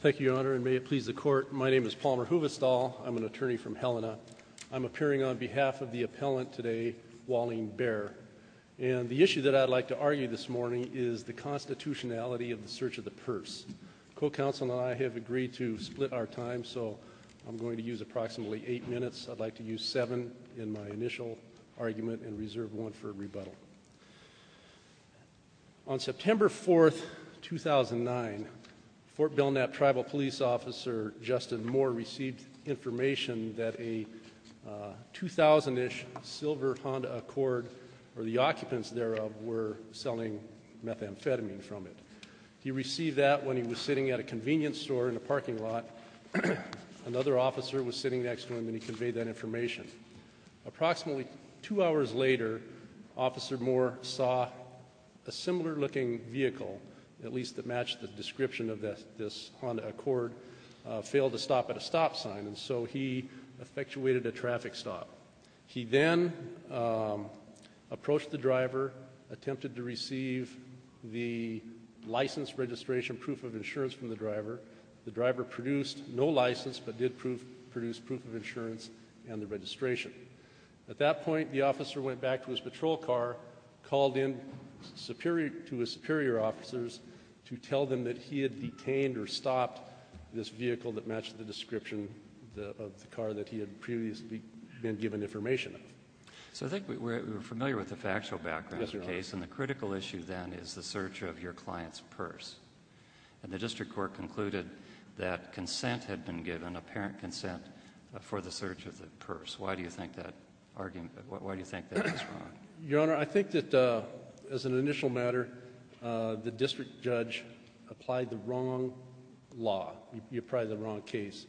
Thank you, Your Honor, and may it please the Court. My name is Palmer Huvestal. I'm an attorney from Helena. I'm appearing on behalf of the appellant today, Wallene Bear. And the issue that I'd like to argue this morning is the constitutionality of the search of the purse. Co-counsel and I have agreed to split our time, so I'm going to use approximately eight minutes. I'd like to use seven in my initial argument and reserve one for rebuttal. On September 4, 2009, Fort Belknap Tribal Police Officer Justin Moore received information that a 2000-ish silver Honda Accord, or the occupants thereof, were selling methamphetamine from it. He received that when he was sitting at a convenience store in a parking lot. Another officer was sitting next to him, and he conveyed that information. Approximately two hours later, Officer Moore saw a similar-looking vehicle, at least that matched the description of this Honda Accord, fail to stop at a stop sign, and so he effectuated a traffic stop. He then approached the driver, attempted to receive the license, registration, proof of insurance from the driver. The driver produced no license, but did produce proof of insurance and the registration. At that point, the officer went back to his patrol car, called in to his superior officers to tell them that he had detained or stopped this vehicle that matched the description of the car that he had previously been given information of. So I think we're familiar with the factual background of the case, and the critical issue then is the search of your client's purse. And the district court concluded that consent had been given, apparent consent, for the search of the purse. Why do you think that argument, why do you think that was wrong? Your Honor, I think that as an initial matter, the district judge applied the wrong law. He applied the wrong case.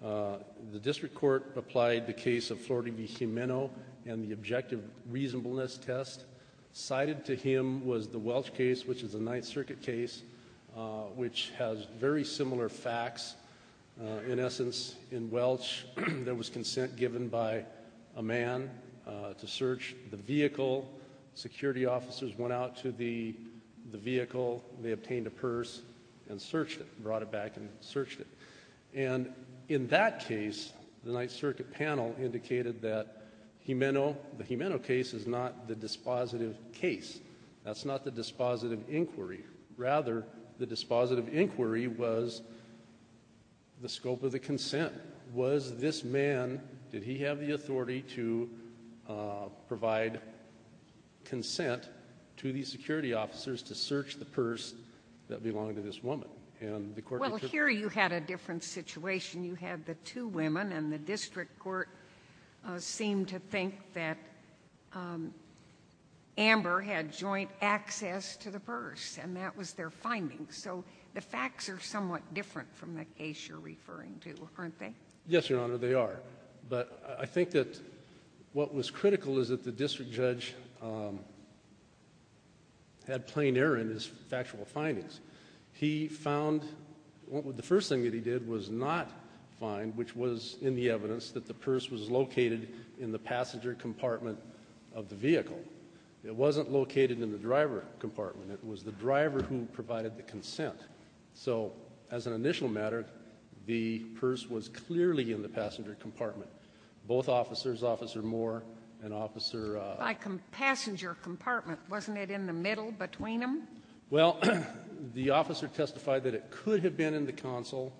The district court applied the case of Florida v. Gimeno and the objective reasonableness test. Cited to him was the Welch case, which is a Ninth Circuit case, which has very similar facts. In essence, in Welch, there was consent given by a man to search the vehicle. Security officers went out to the vehicle. They obtained a purse and searched it, brought it back and searched it. And in that case, the Ninth Circuit panel indicated that the Gimeno case is not the dispositive case. That's not the dispositive inquiry. Rather, the dispositive inquiry was the scope of the consent. Was this man, did he have the authority to provide consent to these security officers to search the purse that belonged to this woman? Well, here you had a different situation. You had the two women and the district court seemed to think that Amber had joint access to the purse and that was their finding. So the facts are somewhat different from the case you're referring to, aren't they? Yes, Your Honor, they are. But I think that what was critical is that the district judge had plain error in his factual findings. He found, the first thing that he did was not find, which was in the evidence, that the purse was located in the passenger compartment of the vehicle. It wasn't located in the driver compartment. It was the driver who provided the consent. So as an initial matter, the purse was clearly in the passenger compartment. Both officers, Officer Moore and Officer… By passenger compartment. Wasn't it in the middle between them? Well, the officer testified that it could have been in the console,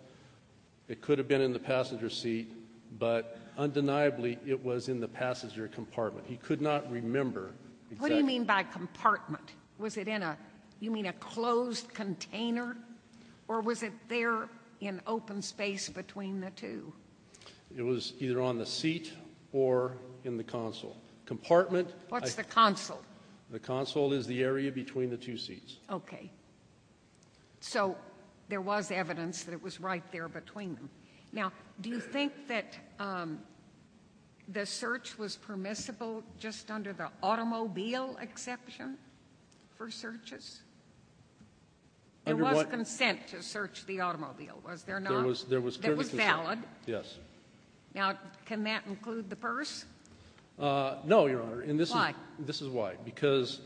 it could have been in the passenger seat, but undeniably it was in the passenger compartment. He could not remember exactly. What do you mean by compartment? Was it in a, you mean a closed container? Or was it there in open space between the two? It was either on the seat or in the console. Compartment… What's the console? The console is the area between the two seats. Okay. So there was evidence that it was right there between them. Now, do you think that the search was permissible just under the automobile exception for searches? There was consent to search the automobile, was there not? There was… That was valid? Yes. Now, can that include the purse? No, Your Honor. Why? This is why. Because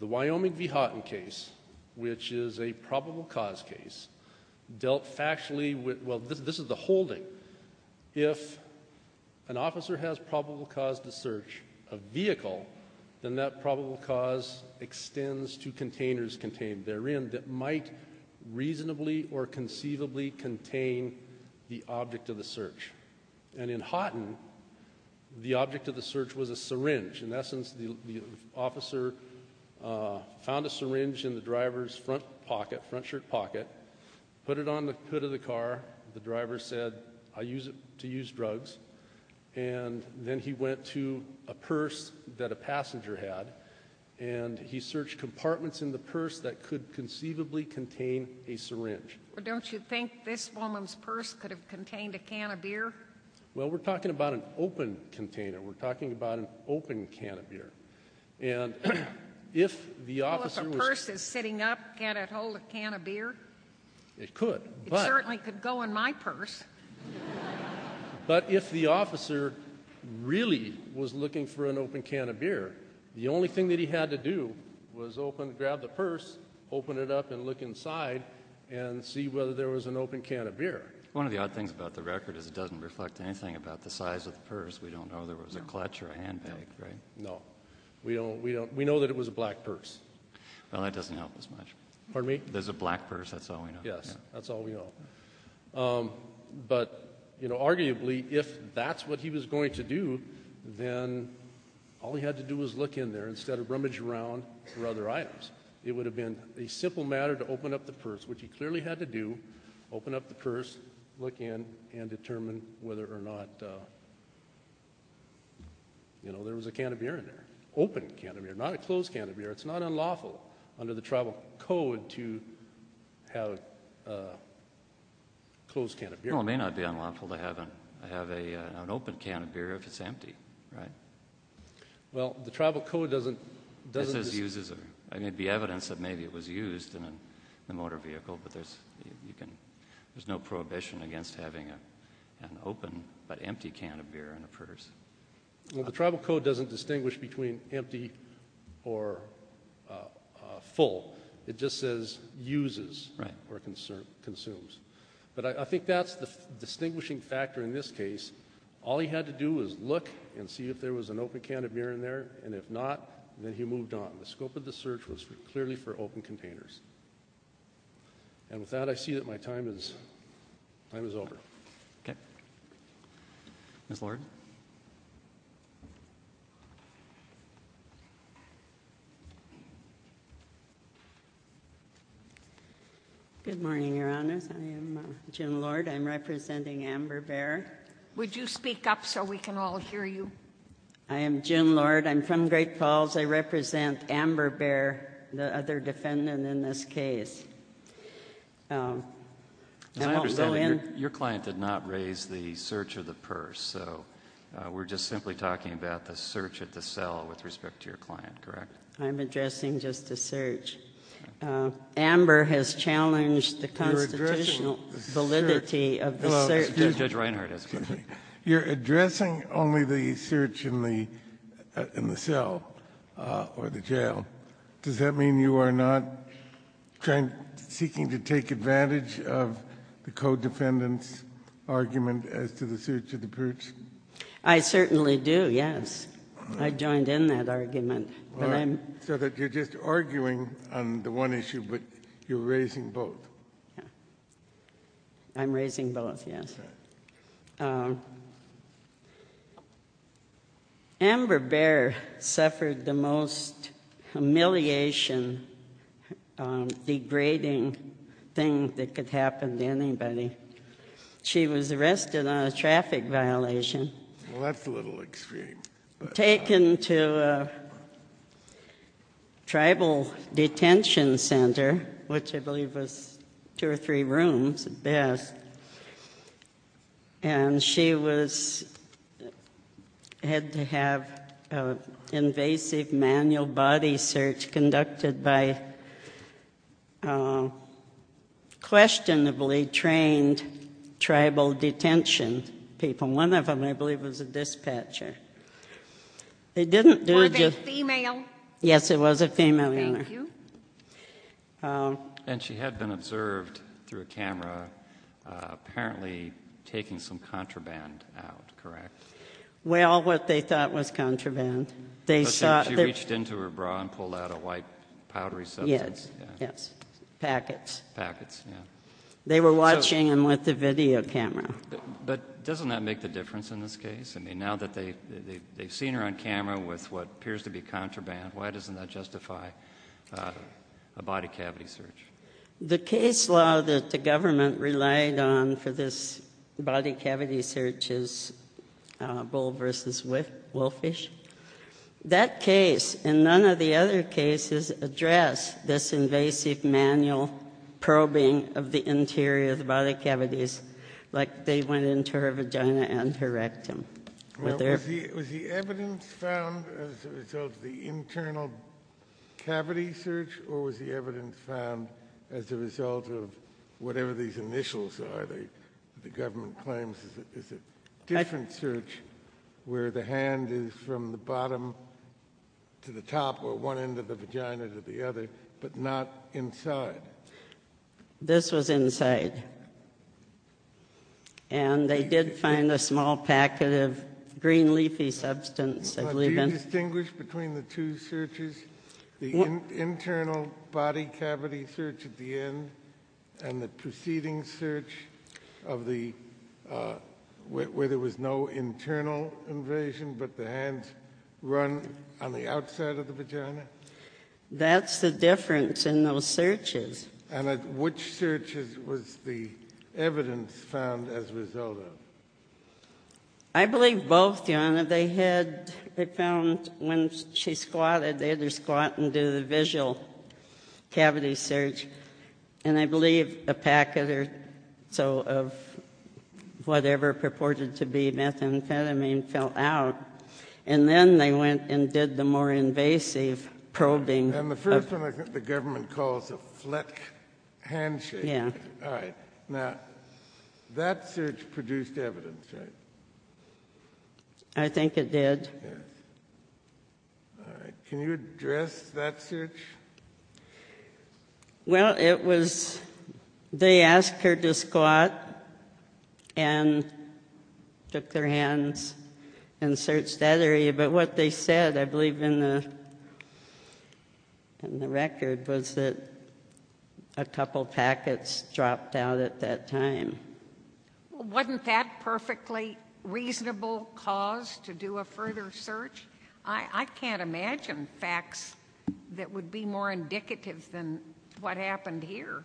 the Wyoming v. Houghton case, which is a probable cause case, dealt factually with, well, this is the holding. If an officer has probable cause to search a vehicle, then that probable cause extends to containers contained therein that might reasonably or conceivably contain the object of the search. And in Houghton, the object of the search was a syringe. In essence, the officer found a syringe in the driver's front pocket, front shirt pocket, put it on the hood of the car. The driver said, I use it to use drugs. And then he went to a purse that a passenger had, and he searched compartments in the purse that could conceivably contain a syringe. Well, don't you think this woman's purse could have contained a can of beer? Well, we're talking about an open container. We're talking about an open can of beer. And if the officer was… Well, if a purse is sitting up, can it hold a can of beer? It could, but… It certainly could go in my purse. But if the officer really was looking for an open can of beer, the only thing that he had to do was open, grab the purse, open it up and look inside and see whether there was an open can of beer. One of the odd things about the record is it doesn't reflect anything about the size of the purse. We don't know if there was a clutch or a handbag, right? No. We know that it was a black purse. Well, that doesn't help as much. Pardon me? There's a black purse, that's all we know. Yes, that's all we know. But, you know, arguably, if that's what he was going to do, then all he had to do was look in there instead of rummage around for other items. It would have been a simple matter to open up the purse, which he clearly had to do, open up the purse, look in and determine whether or not, you know, there was a can of beer in there. Open can of beer, not a closed can of beer. It's not unlawful under the tribal code to have a closed can of beer. Well, it may not be unlawful to have an open can of beer if it's empty, right? Well, the tribal code doesn't… I mean, it would be evidence that maybe it was used in a motor vehicle, but there's no prohibition against having an open but empty can of beer in a purse. Well, the tribal code doesn't distinguish between empty or full. It just says uses or consumes. But I think that's the distinguishing factor in this case. All he had to do was look and see if there was an open can of beer in there, and if not, then he moved on. The scope of the search was clearly for open containers. And with that, I see that my time is over. Okay. Ms. Lord? Good morning, Your Honors. I am Jim Lord. I'm representing Amber Bear. Would you speak up so we can all hear you? I am Jim Lord. I'm from Great Falls. I represent Amber Bear, the other defendant in this case. I won't go in. Your client did not raise the search of the purse, so we're just simply talking about the search at the cell with respect to your client, correct? I'm addressing just the search. Amber has challenged the constitutional validity of the search. Judge Reinhardt has. You're addressing only the search in the cell or the jail. Does that mean you are not seeking to take advantage of the co-defendant's argument as to the search of the purse? I certainly do, yes. I joined in that argument. So that you're just arguing on the one issue, but you're raising both. I'm raising both, yes. Amber Bear suffered the most humiliation, degrading thing that could happen to anybody. She was arrested on a traffic violation. Well, that's a little extreme. Taken to a tribal detention center, which I believe was two or three rooms at best. And she had to have an invasive manual body search conducted by questionably trained tribal detention people. One of them, I believe, was a dispatcher. Were they female? Yes, it was a female. Thank you. And she had been observed through a camera apparently taking some contraband out, correct? Well, what they thought was contraband. She reached into her bra and pulled out a white powdery substance. Yes, yes. Packets. Packets, yes. They were watching them with the video camera. But doesn't that make the difference in this case? I mean, now that they've seen her on camera with what appears to be The case law that the government relied on for this body cavity search is Bull v. Wolfish. That case and none of the other cases address this invasive manual probing of the interior of the body cavities like they went into her vagina and her rectum. Was the evidence found as a result of the internal cavity search or was the evidence found as a result of whatever these initials are that the government claims is a different search where the hand is from the bottom to the top or one end of the vagina to the other but not inside? This was inside. And they did find a small packet of green leafy substance. Do you distinguish between the two searches? The internal body cavity search at the end and the preceding search of the where there was no internal invasion but the hands run on the outside of the vagina? That's the difference in those searches. And which searches was the evidence found as a result of? I believe both, Your Honor. They found when she squatted, they had her squat and do the visual cavity search. And I believe a packet or so of whatever purported to be methamphetamine fell out. And then they went and did the more invasive probing. And the first one I think the government calls a fleck handshake. Yeah. All right. Now, that search produced evidence, right? I think it did. All right. Can you address that search? Well, it was they asked her to squat and took their hands and searched that area. But what they said, I believe in the record, was that a couple packets dropped out at that time. Wasn't that perfectly reasonable cause to do a further search? I can't imagine facts that would be more indicative than what happened here.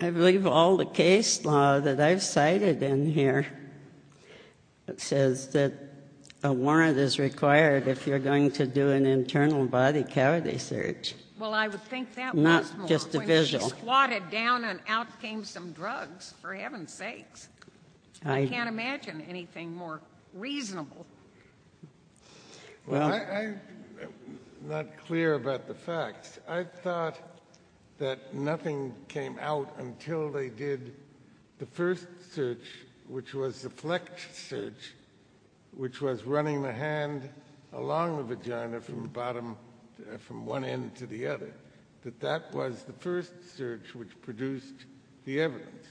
I believe all the case law that I've cited in here says that a warrant is required if you're going to do an internal body cavity search. Well, I would think that was more. Not just a visual. Squatted down and out came some drugs, for heaven's sakes. I can't imagine anything more reasonable. Well, I'm not clear about the facts. I thought that nothing came out until they did the first search, which was the fleck search, which was running the hand along the vagina from the bottom, from one end to the other. But they said that that was the first search which produced the evidence,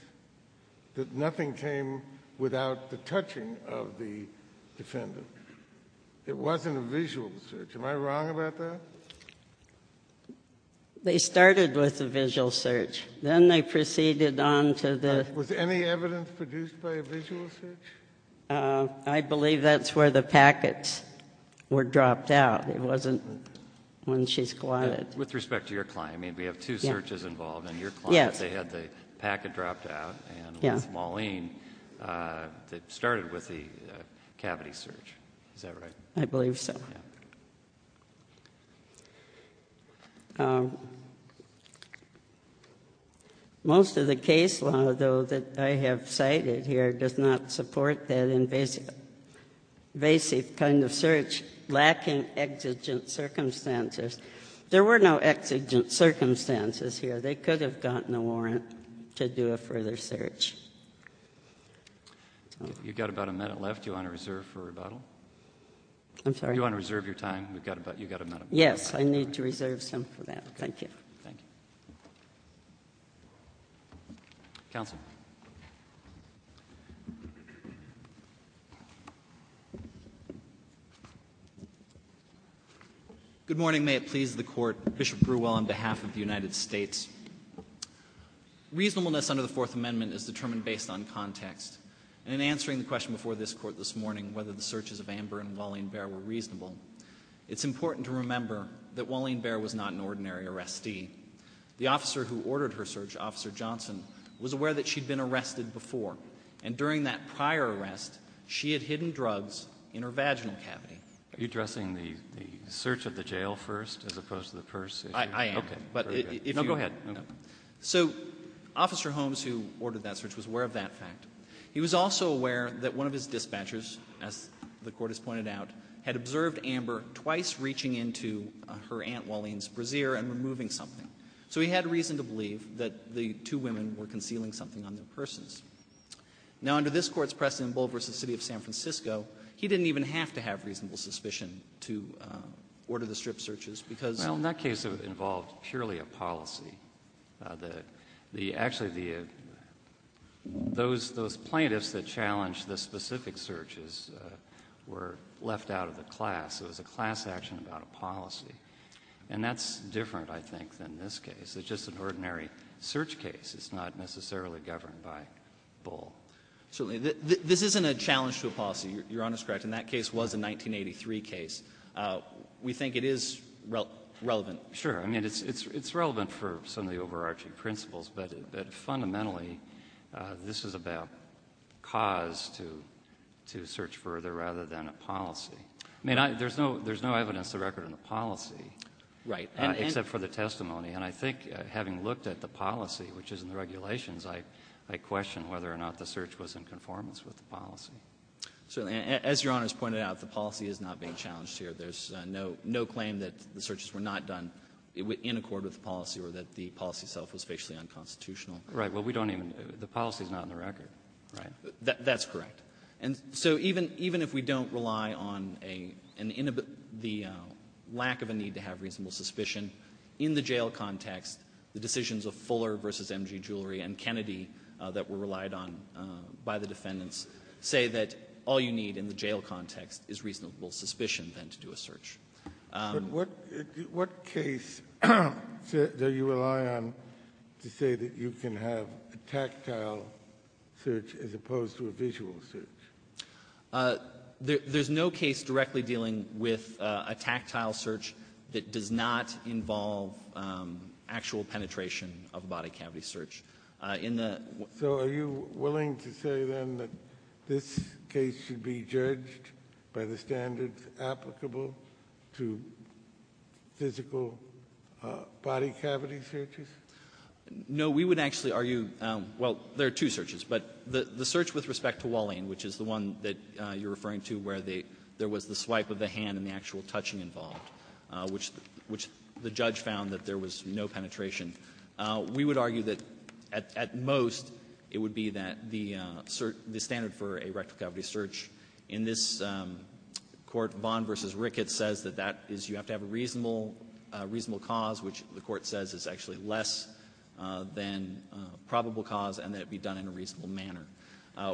that nothing came without the touching of the defendant. It wasn't a visual search. Am I wrong about that? They started with a visual search. Then they proceeded on to the — Was any evidence produced by a visual search? I believe that's where the packets were dropped out. It wasn't when she squatted. With respect to your client? I mean, we have two searches involved in your client. Yes. They had the packet dropped out. Yeah. And with Mauline, it started with the cavity search. Is that right? I believe so. Yeah. Most of the case law, though, that I have cited here does not support that invasive kind of search, lacking exigent circumstances. There were no exigent circumstances here. They could have gotten a warrant to do a further search. You've got about a minute left. Do you want to reserve for rebuttal? I'm sorry? Do you want to reserve your time? You've got about a minute. Yes. I need to reserve some for that. Thank you. Thank you. Counsel. Good morning. May it please the Court. Bishop Brewell on behalf of the United States. Reasonableness under the Fourth Amendment is determined based on context. And in answering the question before this Court this morning, whether the searches of Amber and Mauline Baer were reasonable, it's important to remember that Mauline Baer was not an ordinary arrestee. The officer who ordered her search, Officer Johnson, was aware that she had been arrested before. And during that prior arrest, she had hidden drugs in her vaginal cavity. Are you addressing the search of the jail first as opposed to the purse issue? I am. Okay. No, go ahead. So Officer Holmes, who ordered that search, was aware of that fact. He was also aware that one of his dispatchers, as the Court has pointed out, had observed Amber twice reaching into her Aunt Mauline's brassiere and removing something. So he had reason to believe that the two women were concealing something on their purses. Now, under this Court's precedent in Bull v. City of San Francisco, he didn't even have to have reasonable suspicion to order the strip searches because of the search. Well, in that case, it involved purely a policy. Actually, those plaintiffs that challenged the specific searches were left out of the class. It was a class action about a policy. And that's different, I think, than this case. It's just an ordinary search case. It's not necessarily governed by Bull. Certainly. This isn't a challenge to a policy. Your Honor is correct. And that case was a 1983 case. We think it is relevant. Sure. I mean, it's relevant for some of the overarching principles. But fundamentally, this is about cause to search further rather than a policy. I mean, there's no evidence to record in the policy. Right. Except for the testimony. And I think having looked at the policy, which is in the regulations, I question whether or not the search was in conformance with the policy. Certainly. As Your Honor has pointed out, the policy is not being challenged here. There's no claim that the searches were not done in accord with the policy or that the policy itself was facially unconstitutional. Right. Well, we don't even know. The policy is not in the record. Right. That's correct. And so even if we don't rely on the lack of a need to have reasonable suspicion, in the jail context, the decisions of Fuller v. M.G. Jewelry and Kennedy that were relied on by the defendants say that all you need in the jail context is reasonable suspicion then to do a search. But what case do you rely on to say that you can have a tactile search as opposed to a visual search? There's no case directly dealing with a tactile search that does not involve actual penetration of a body cavity search. So are you willing to say, then, that this case should be judged by the standards applicable to physical body cavity searches? No. We would actually argue, well, there are two searches. But the search with respect to Walling, which is the one that you're referring to where there was the swipe of the hand and the actual touching involved, which the judge found that there was no penetration, we would argue that at most it would be that the standard for a rectal cavity search in this Court, Vaughn v. Ricketts, says that that is you have to have a reasonable cause, which the Court says is actually less than probable cause and that it be done in a reasonable manner.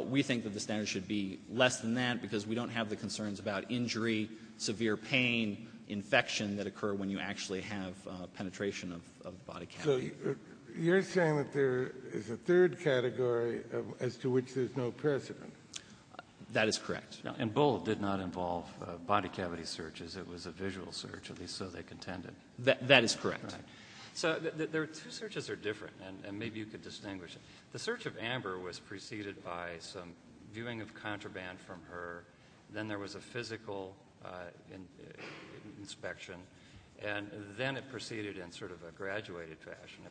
We think that the standard should be less than that because we don't have the concerns about injury, severe pain, infection that occur when you actually have penetration of body cavity. So you're saying that there is a third category as to which there's no precedent? That is correct. And Bullitt did not involve body cavity searches. It was a visual search, at least so they contended. That is correct. So the two searches are different, and maybe you could distinguish them. The search of Amber was preceded by some viewing of contraband from her. Then there was a physical inspection. And then it proceeded in sort of a graduated fashion.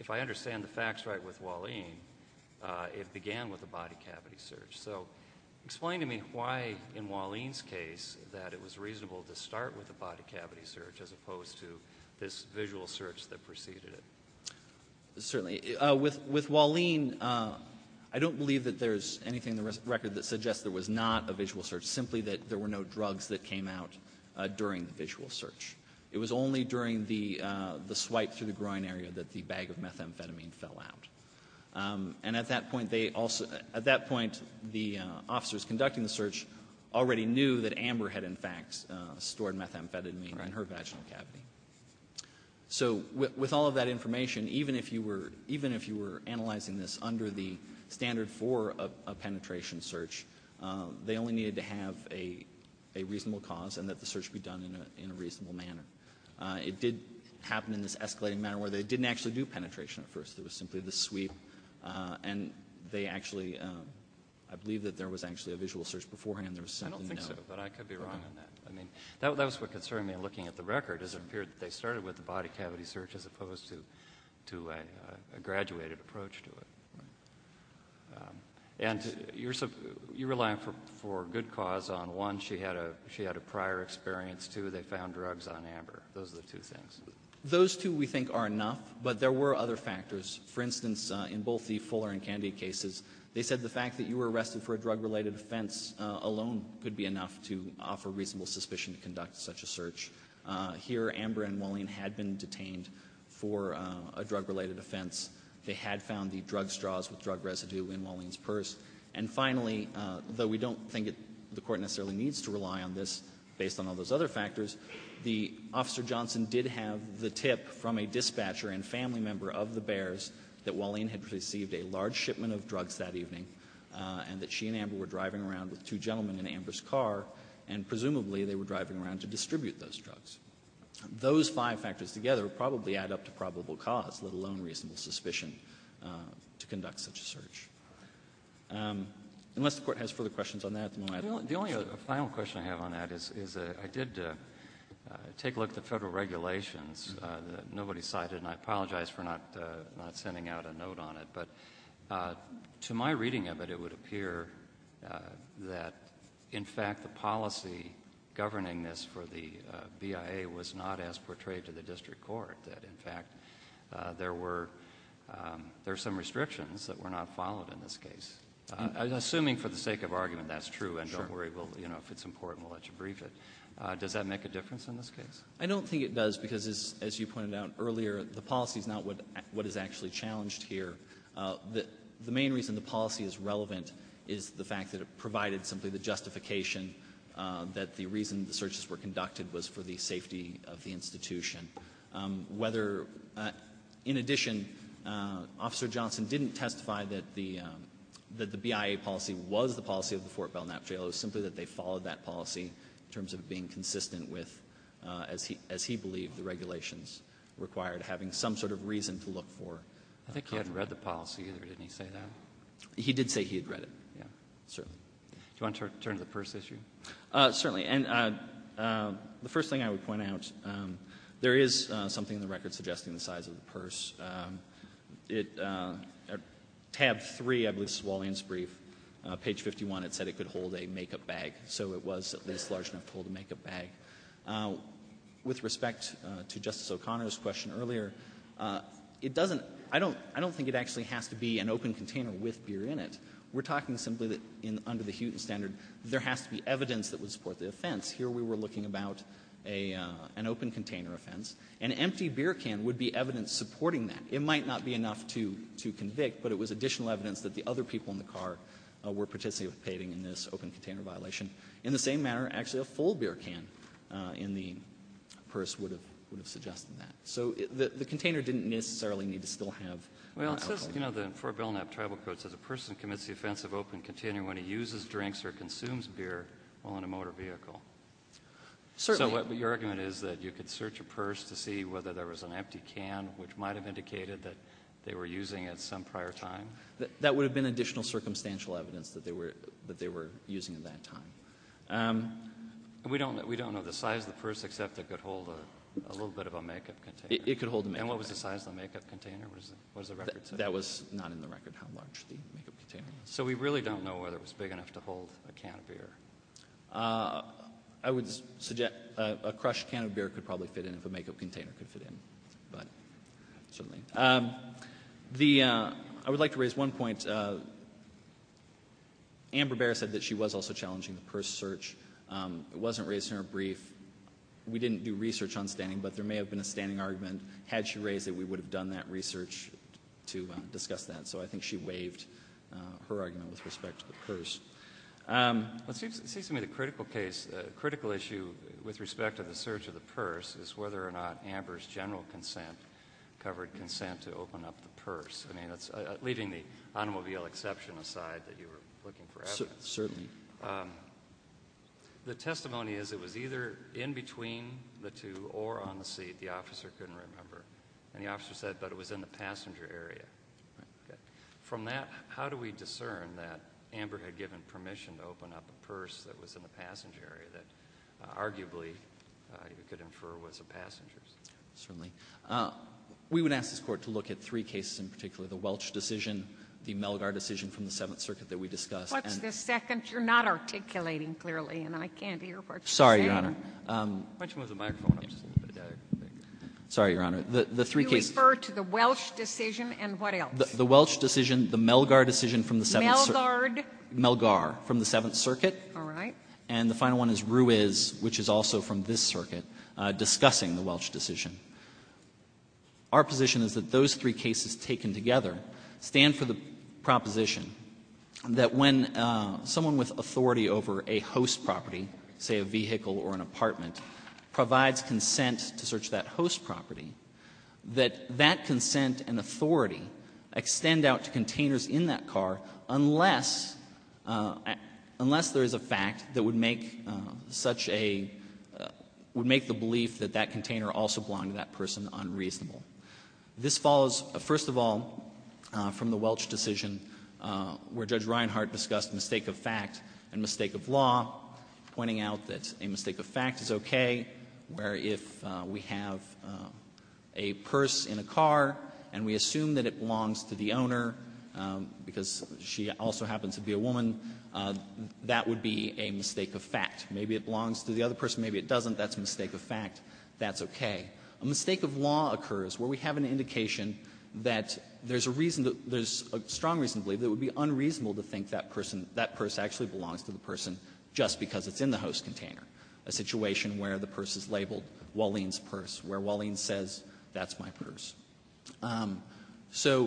If I understand the facts right with Walling, it began with a body cavity search. So explain to me why in Walling's case that it was reasonable to start with a body cavity search prior to this visual search that preceded it. Certainly. With Walling, I don't believe that there's anything in the record that suggests there was not a visual search, simply that there were no drugs that came out during the visual search. It was only during the swipe through the groin area that the bag of methamphetamine fell out. And at that point, the officers conducting the search already knew that Amber had, in fact, stored methamphetamine in her vaginal cavity. So with all of that information, even if you were analyzing this under the standard for a penetration search, they only needed to have a reasonable cause and that the search be done in a reasonable manner. It did happen in this escalating manner where they didn't actually do penetration at first. It was simply the sweep. And they actually, I believe that there was actually a visual search beforehand. I don't think so, but I could be wrong on that. I mean, that was what concerned me in looking at the record is it appeared that they started with the body cavity search as opposed to a graduated approach to it. And you're relying for good cause on one, she had a prior experience. Two, they found drugs on Amber. Those are the two things. Those two we think are enough, but there were other factors. For instance, in both the Fuller and Candy cases, they said the fact that you were alone could be enough to offer reasonable suspicion to conduct such a search. Here, Amber and Wallien had been detained for a drug-related offense. They had found the drug straws with drug residue in Wallien's purse. And finally, though we don't think the Court necessarily needs to rely on this based on all those other factors, the Officer Johnson did have the tip from a dispatcher and family member of the Bears that Wallien had received a large shipment of drugs that evening, and that she and Amber were driving around with two gentlemen in Amber's car, and presumably they were driving around to distribute those drugs. Those five factors together probably add up to probable cause, let alone reasonable suspicion to conduct such a search. Unless the Court has further questions on that at the moment, I don't think so. The only final question I have on that is I did take a look at the Federal regulations that nobody cited, and I apologize for not sending out a note on it. But to my reading of it, it would appear that, in fact, the policy governing this for the BIA was not as portrayed to the district court, that, in fact, there were some restrictions that were not followed in this case. Assuming for the sake of argument that's true, and don't worry, if it's important, we'll let you brief it, does that make a difference in this case? I don't think it does because, as you pointed out earlier, the policy is not what is actually challenged here. The main reason the policy is relevant is the fact that it provided simply the justification that the reason the searches were conducted was for the safety of the institution. Whether — in addition, Officer Johnson didn't testify that the BIA policy was the policy of the Fort Belknap jail. It was simply that they followed that policy in terms of being consistent with, as he believed, the regulations required, having some sort of reason to look for. I think he hadn't read the policy, either. Didn't he say that? He did say he had read it. Yeah. Certainly. Do you want to turn to the purse issue? Certainly. And the first thing I would point out, there is something in the record suggesting the size of the purse. It — tab 3, I believe, is Wallian's brief. Page 51, it said it could hold a makeup bag. So it was at least large enough to hold a makeup bag. With respect to Justice O'Connor's question earlier, it doesn't — I don't think it actually has to be an open container with beer in it. We're talking simply that under the Hewton standard, there has to be evidence that would support the offense. Here we were looking about an open container offense. An empty beer can would be evidence supporting that. It might not be enough to convict, but it was additional evidence that the other people in the car were participating in this open container violation. In the same manner, actually a full beer can in the purse would have suggested that. So the container didn't necessarily need to still have alcohol in it. Well, it says, you know, the Fort Belknap Tribal Code says a person commits the offense of open container when he uses drinks or consumes beer while in a motor vehicle. Certainly. So your argument is that you could search a purse to see whether there was an empty can, which might have indicated that they were using it some prior time? That would have been additional circumstantial evidence that they were using at that time. We don't know the size of the purse except it could hold a little bit of a make-up container. It could hold a make-up container. And what was the size of the make-up container? What does the record say? That was not in the record, how large the make-up container was. So we really don't know whether it was big enough to hold a can of beer. I would suggest a crushed can of beer could probably fit in if a make-up container could fit in, but certainly. I would like to raise one point. Amber Bear said that she was also challenging the purse search. It wasn't raised in her brief. We didn't do research on standing, but there may have been a standing argument. Had she raised it, we would have done that research to discuss that. So I think she waived her argument with respect to the purse. It seems to me the critical issue with respect to the search of the purse is whether or not Amber's general consent covered consent to open up the purse, leaving the automobile exception aside that you were looking for evidence. Certainly. The testimony is it was either in between the two or on the seat. The officer couldn't remember. And the officer said, but it was in the passenger area. From that, how do we discern that Amber had given permission to open up a purse that was in the passenger area that arguably you could infer was a passenger's? Certainly. We would ask this Court to look at three cases in particular, the Welch decision, the Melgar decision from the Seventh Circuit that we discussed. What's the second? You're not articulating clearly, and I can't hear what you're saying. Sorry, Your Honor. Why don't you move the microphone up just a little bit. Sorry, Your Honor. The three cases. You refer to the Welch decision, and what else? The Welch decision, the Melgar decision from the Seventh Circuit. Melgard? Melgar from the Seventh Circuit. All right. And the final one is Ruiz, which is also from this circuit, discussing the Welch decision. Our position is that those three cases taken together stand for the proposition that when someone with authority over a host property, say a vehicle or an apartment, provides consent to search that host property, that that consent and authority extend out to containers in that car unless there is a fact that would make such a — would make the belief that that container also belonged to that person unreasonable. This follows, first of all, from the Welch decision, where Judge Reinhart discussed mistake of fact and mistake of law, pointing out that a mistake of fact is okay, where if we have a purse in a car and we assume that it belongs to the owner, because she also happens to be a woman, that would be a mistake of fact. Maybe it belongs to the other person. Maybe it doesn't. That's a mistake of fact. That's okay. A mistake of law occurs where we have an indication that there's a reason, there's a strong reason to believe that it would be unreasonable to think that person, that purse actually belongs to the person just because it's in the host container, a situation where the purse is labeled Walleen's Purse, where Walleen says that's my purse. So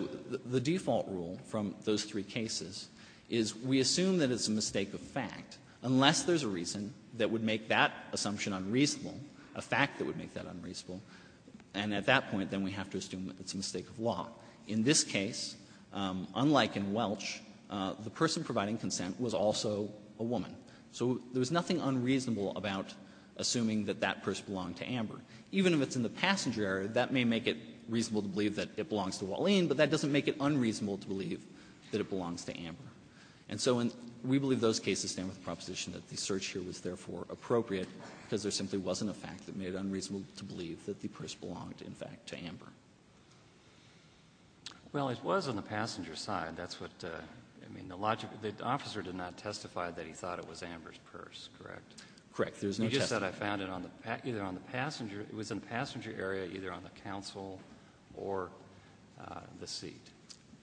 the default rule from those three cases is we assume that it's a mistake of fact unless there's a reason that would make that assumption unreasonable, a fact that would make that unreasonable. And at that point, then we have to assume that it's a mistake of law. In this case, unlike in Welch, the person providing consent was also a woman. So there was nothing unreasonable about assuming that that purse belonged to Amber. Even if it's in the passenger area, that may make it reasonable to believe that it belongs to Walleen, but that doesn't make it unreasonable to believe that it belongs to Amber. And so we believe those cases stand with the proposition that the search here was therefore appropriate because there simply wasn't a fact that made it unreasonable to believe that the purse belonged, in fact, to Amber. Well, it was on the passenger side. That's what, I mean, the logic, the officer did not testify that he thought it was Amber's purse, correct? Correct. There's no testimony. You just said I found it either on the passenger, it was in the passenger area, either on the counsel or the seat.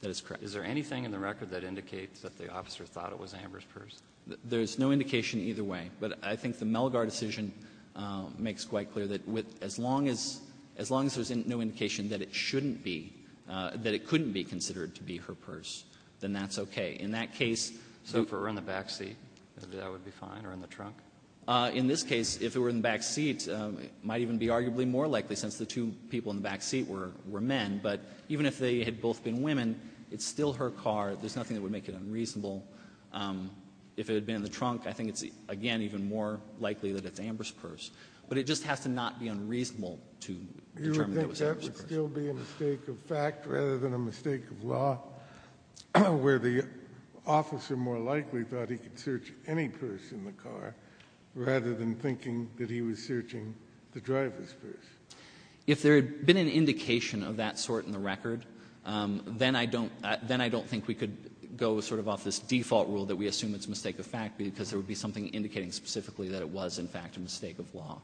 That is correct. Is there anything in the record that indicates that the officer thought it was Amber's purse? There's no indication either way. But I think the Melgar decision makes quite clear that as long as, as long as there's no indication that it shouldn't be, that it couldn't be considered to be her purse, then that's okay. In that case so far on the backseat, that would be fine, or in the trunk? In this case, if it were in the backseat, it might even be arguably more likely since the two people in the backseat were men, but even if they had both been women, it's still her car. There's nothing that would make it unreasonable. If it had been in the trunk, I think it's, again, even more likely that it's Amber's purse. Would that still be a mistake of fact rather than a mistake of law where the officer more likely thought he could search any purse in the car rather than thinking that he was searching the driver's purse? If there had been an indication of that sort in the record, then I don't, then I don't think we could go sort of off this default rule that we assume it's a mistake of fact because there would be something indicating specifically that it was, in fact, a mistake of law.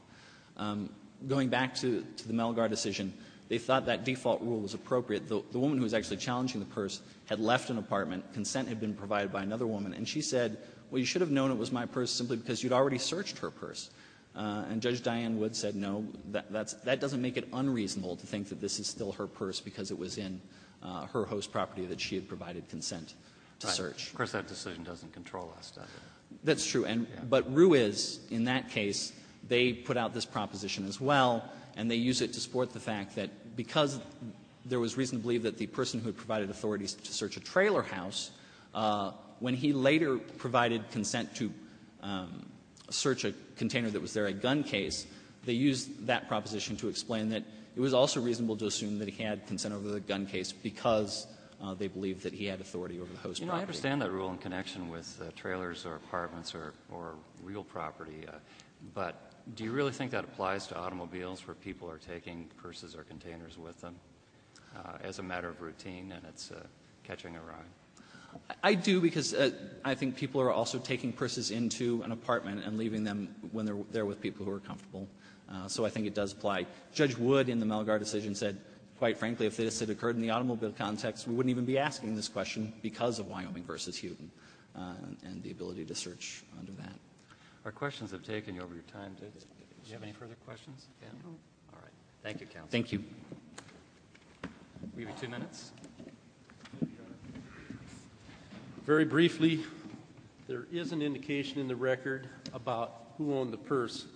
Going back to the Melgar decision, they thought that default rule was appropriate. The woman who was actually challenging the purse had left an apartment. Consent had been provided by another woman, and she said, well, you should have known it was my purse simply because you'd already searched her purse. And Judge Diane Wood said, no, that doesn't make it unreasonable to think that this is still her purse because it was in her host property that she had provided consent to search. Right. Of course, that decision doesn't control us, does it? That's true. But Ruiz, in that case, they put out this proposition as well, and they use it to support the fact that because there was reason to believe that the person who had provided authorities to search a trailer house, when he later provided consent to search a container that was there, a gun case, they used that proposition to explain that it was also reasonable to assume that he had consent over the gun case because they believed that he had authority over the host property. I understand that rule in connection with trailers or apartments or real property, but do you really think that applies to automobiles where people are taking purses or containers with them as a matter of routine and it's catching a ride? I do because I think people are also taking purses into an apartment and leaving them when they're there with people who are comfortable. So I think it does apply. Judge Wood in the Malgar decision said, quite frankly, if this had occurred in the case of Wyoming v. Houghton and the ability to search under that. Our questions have taken over your time. Do you have any further questions? No. All right. Thank you, counsel. Thank you. We have two minutes. Very briefly, there is an indication in the record about who owned the purse,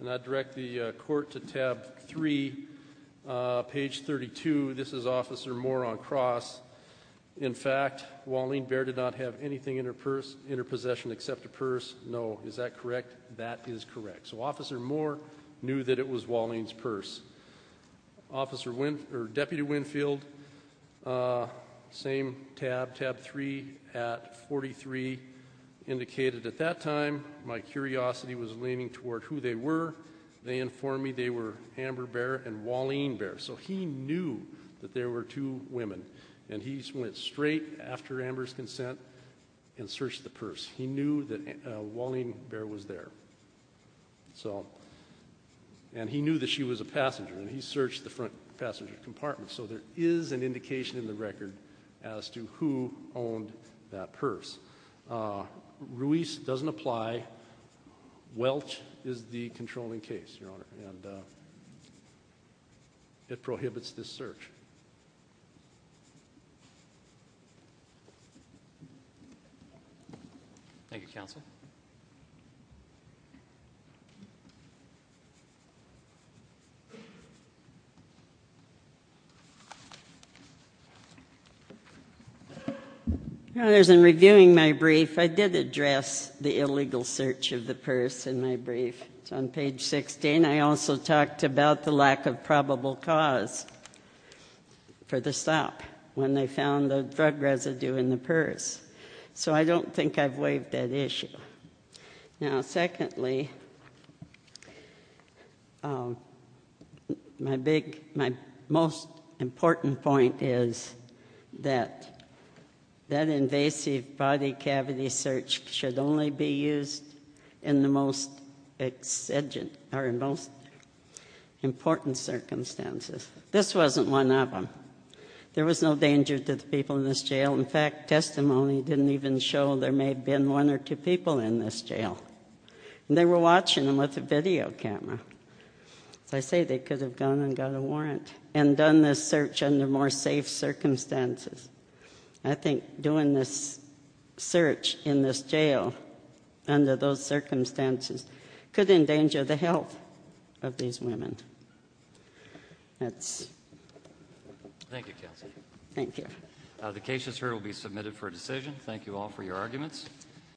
and I'd direct the court to tab 3, page 32. This is Officer Moore on cross. In fact, Waleen Bair did not have anything in her possession except a purse. No. Is that correct? That is correct. So Officer Moore knew that it was Waleen's purse. Deputy Winfield, same tab, tab 3 at 43, indicated, at that time my curiosity was leaning toward who they were. They informed me they were Amber Bair and Waleen Bair. So he knew that there were two women, and he went straight after Amber's consent and searched the purse. He knew that Waleen Bair was there, and he knew that she was a passenger, and he searched the front passenger compartment. So there is an indication in the record as to who owned that purse. Ruiz doesn't apply. Welch is the controlling case, Your Honor. And it prohibits this search. Thank you, counsel. In reviewing my brief, I did address the illegal search of the purse in my brief. It's on page 16. I also talked about the lack of probable cause for the stop when they found the drug residue in the purse. So I don't think I've waived that issue. Now, secondly, my most important point is that that invasive body cavity search should only be used in the most important circumstances. This wasn't one of them. There was no danger to the people in this jail. In fact, testimony didn't even show there may have been one or two people in this jail. And they were watching them with a video camera. As I say, they could have gone and got a warrant and done this search under more safe circumstances. I think doing this search in this jail under those circumstances could endanger the health of these women. Thank you, counsel. Thank you. The case is here. It will be submitted for a decision. Thank you all for your arguments.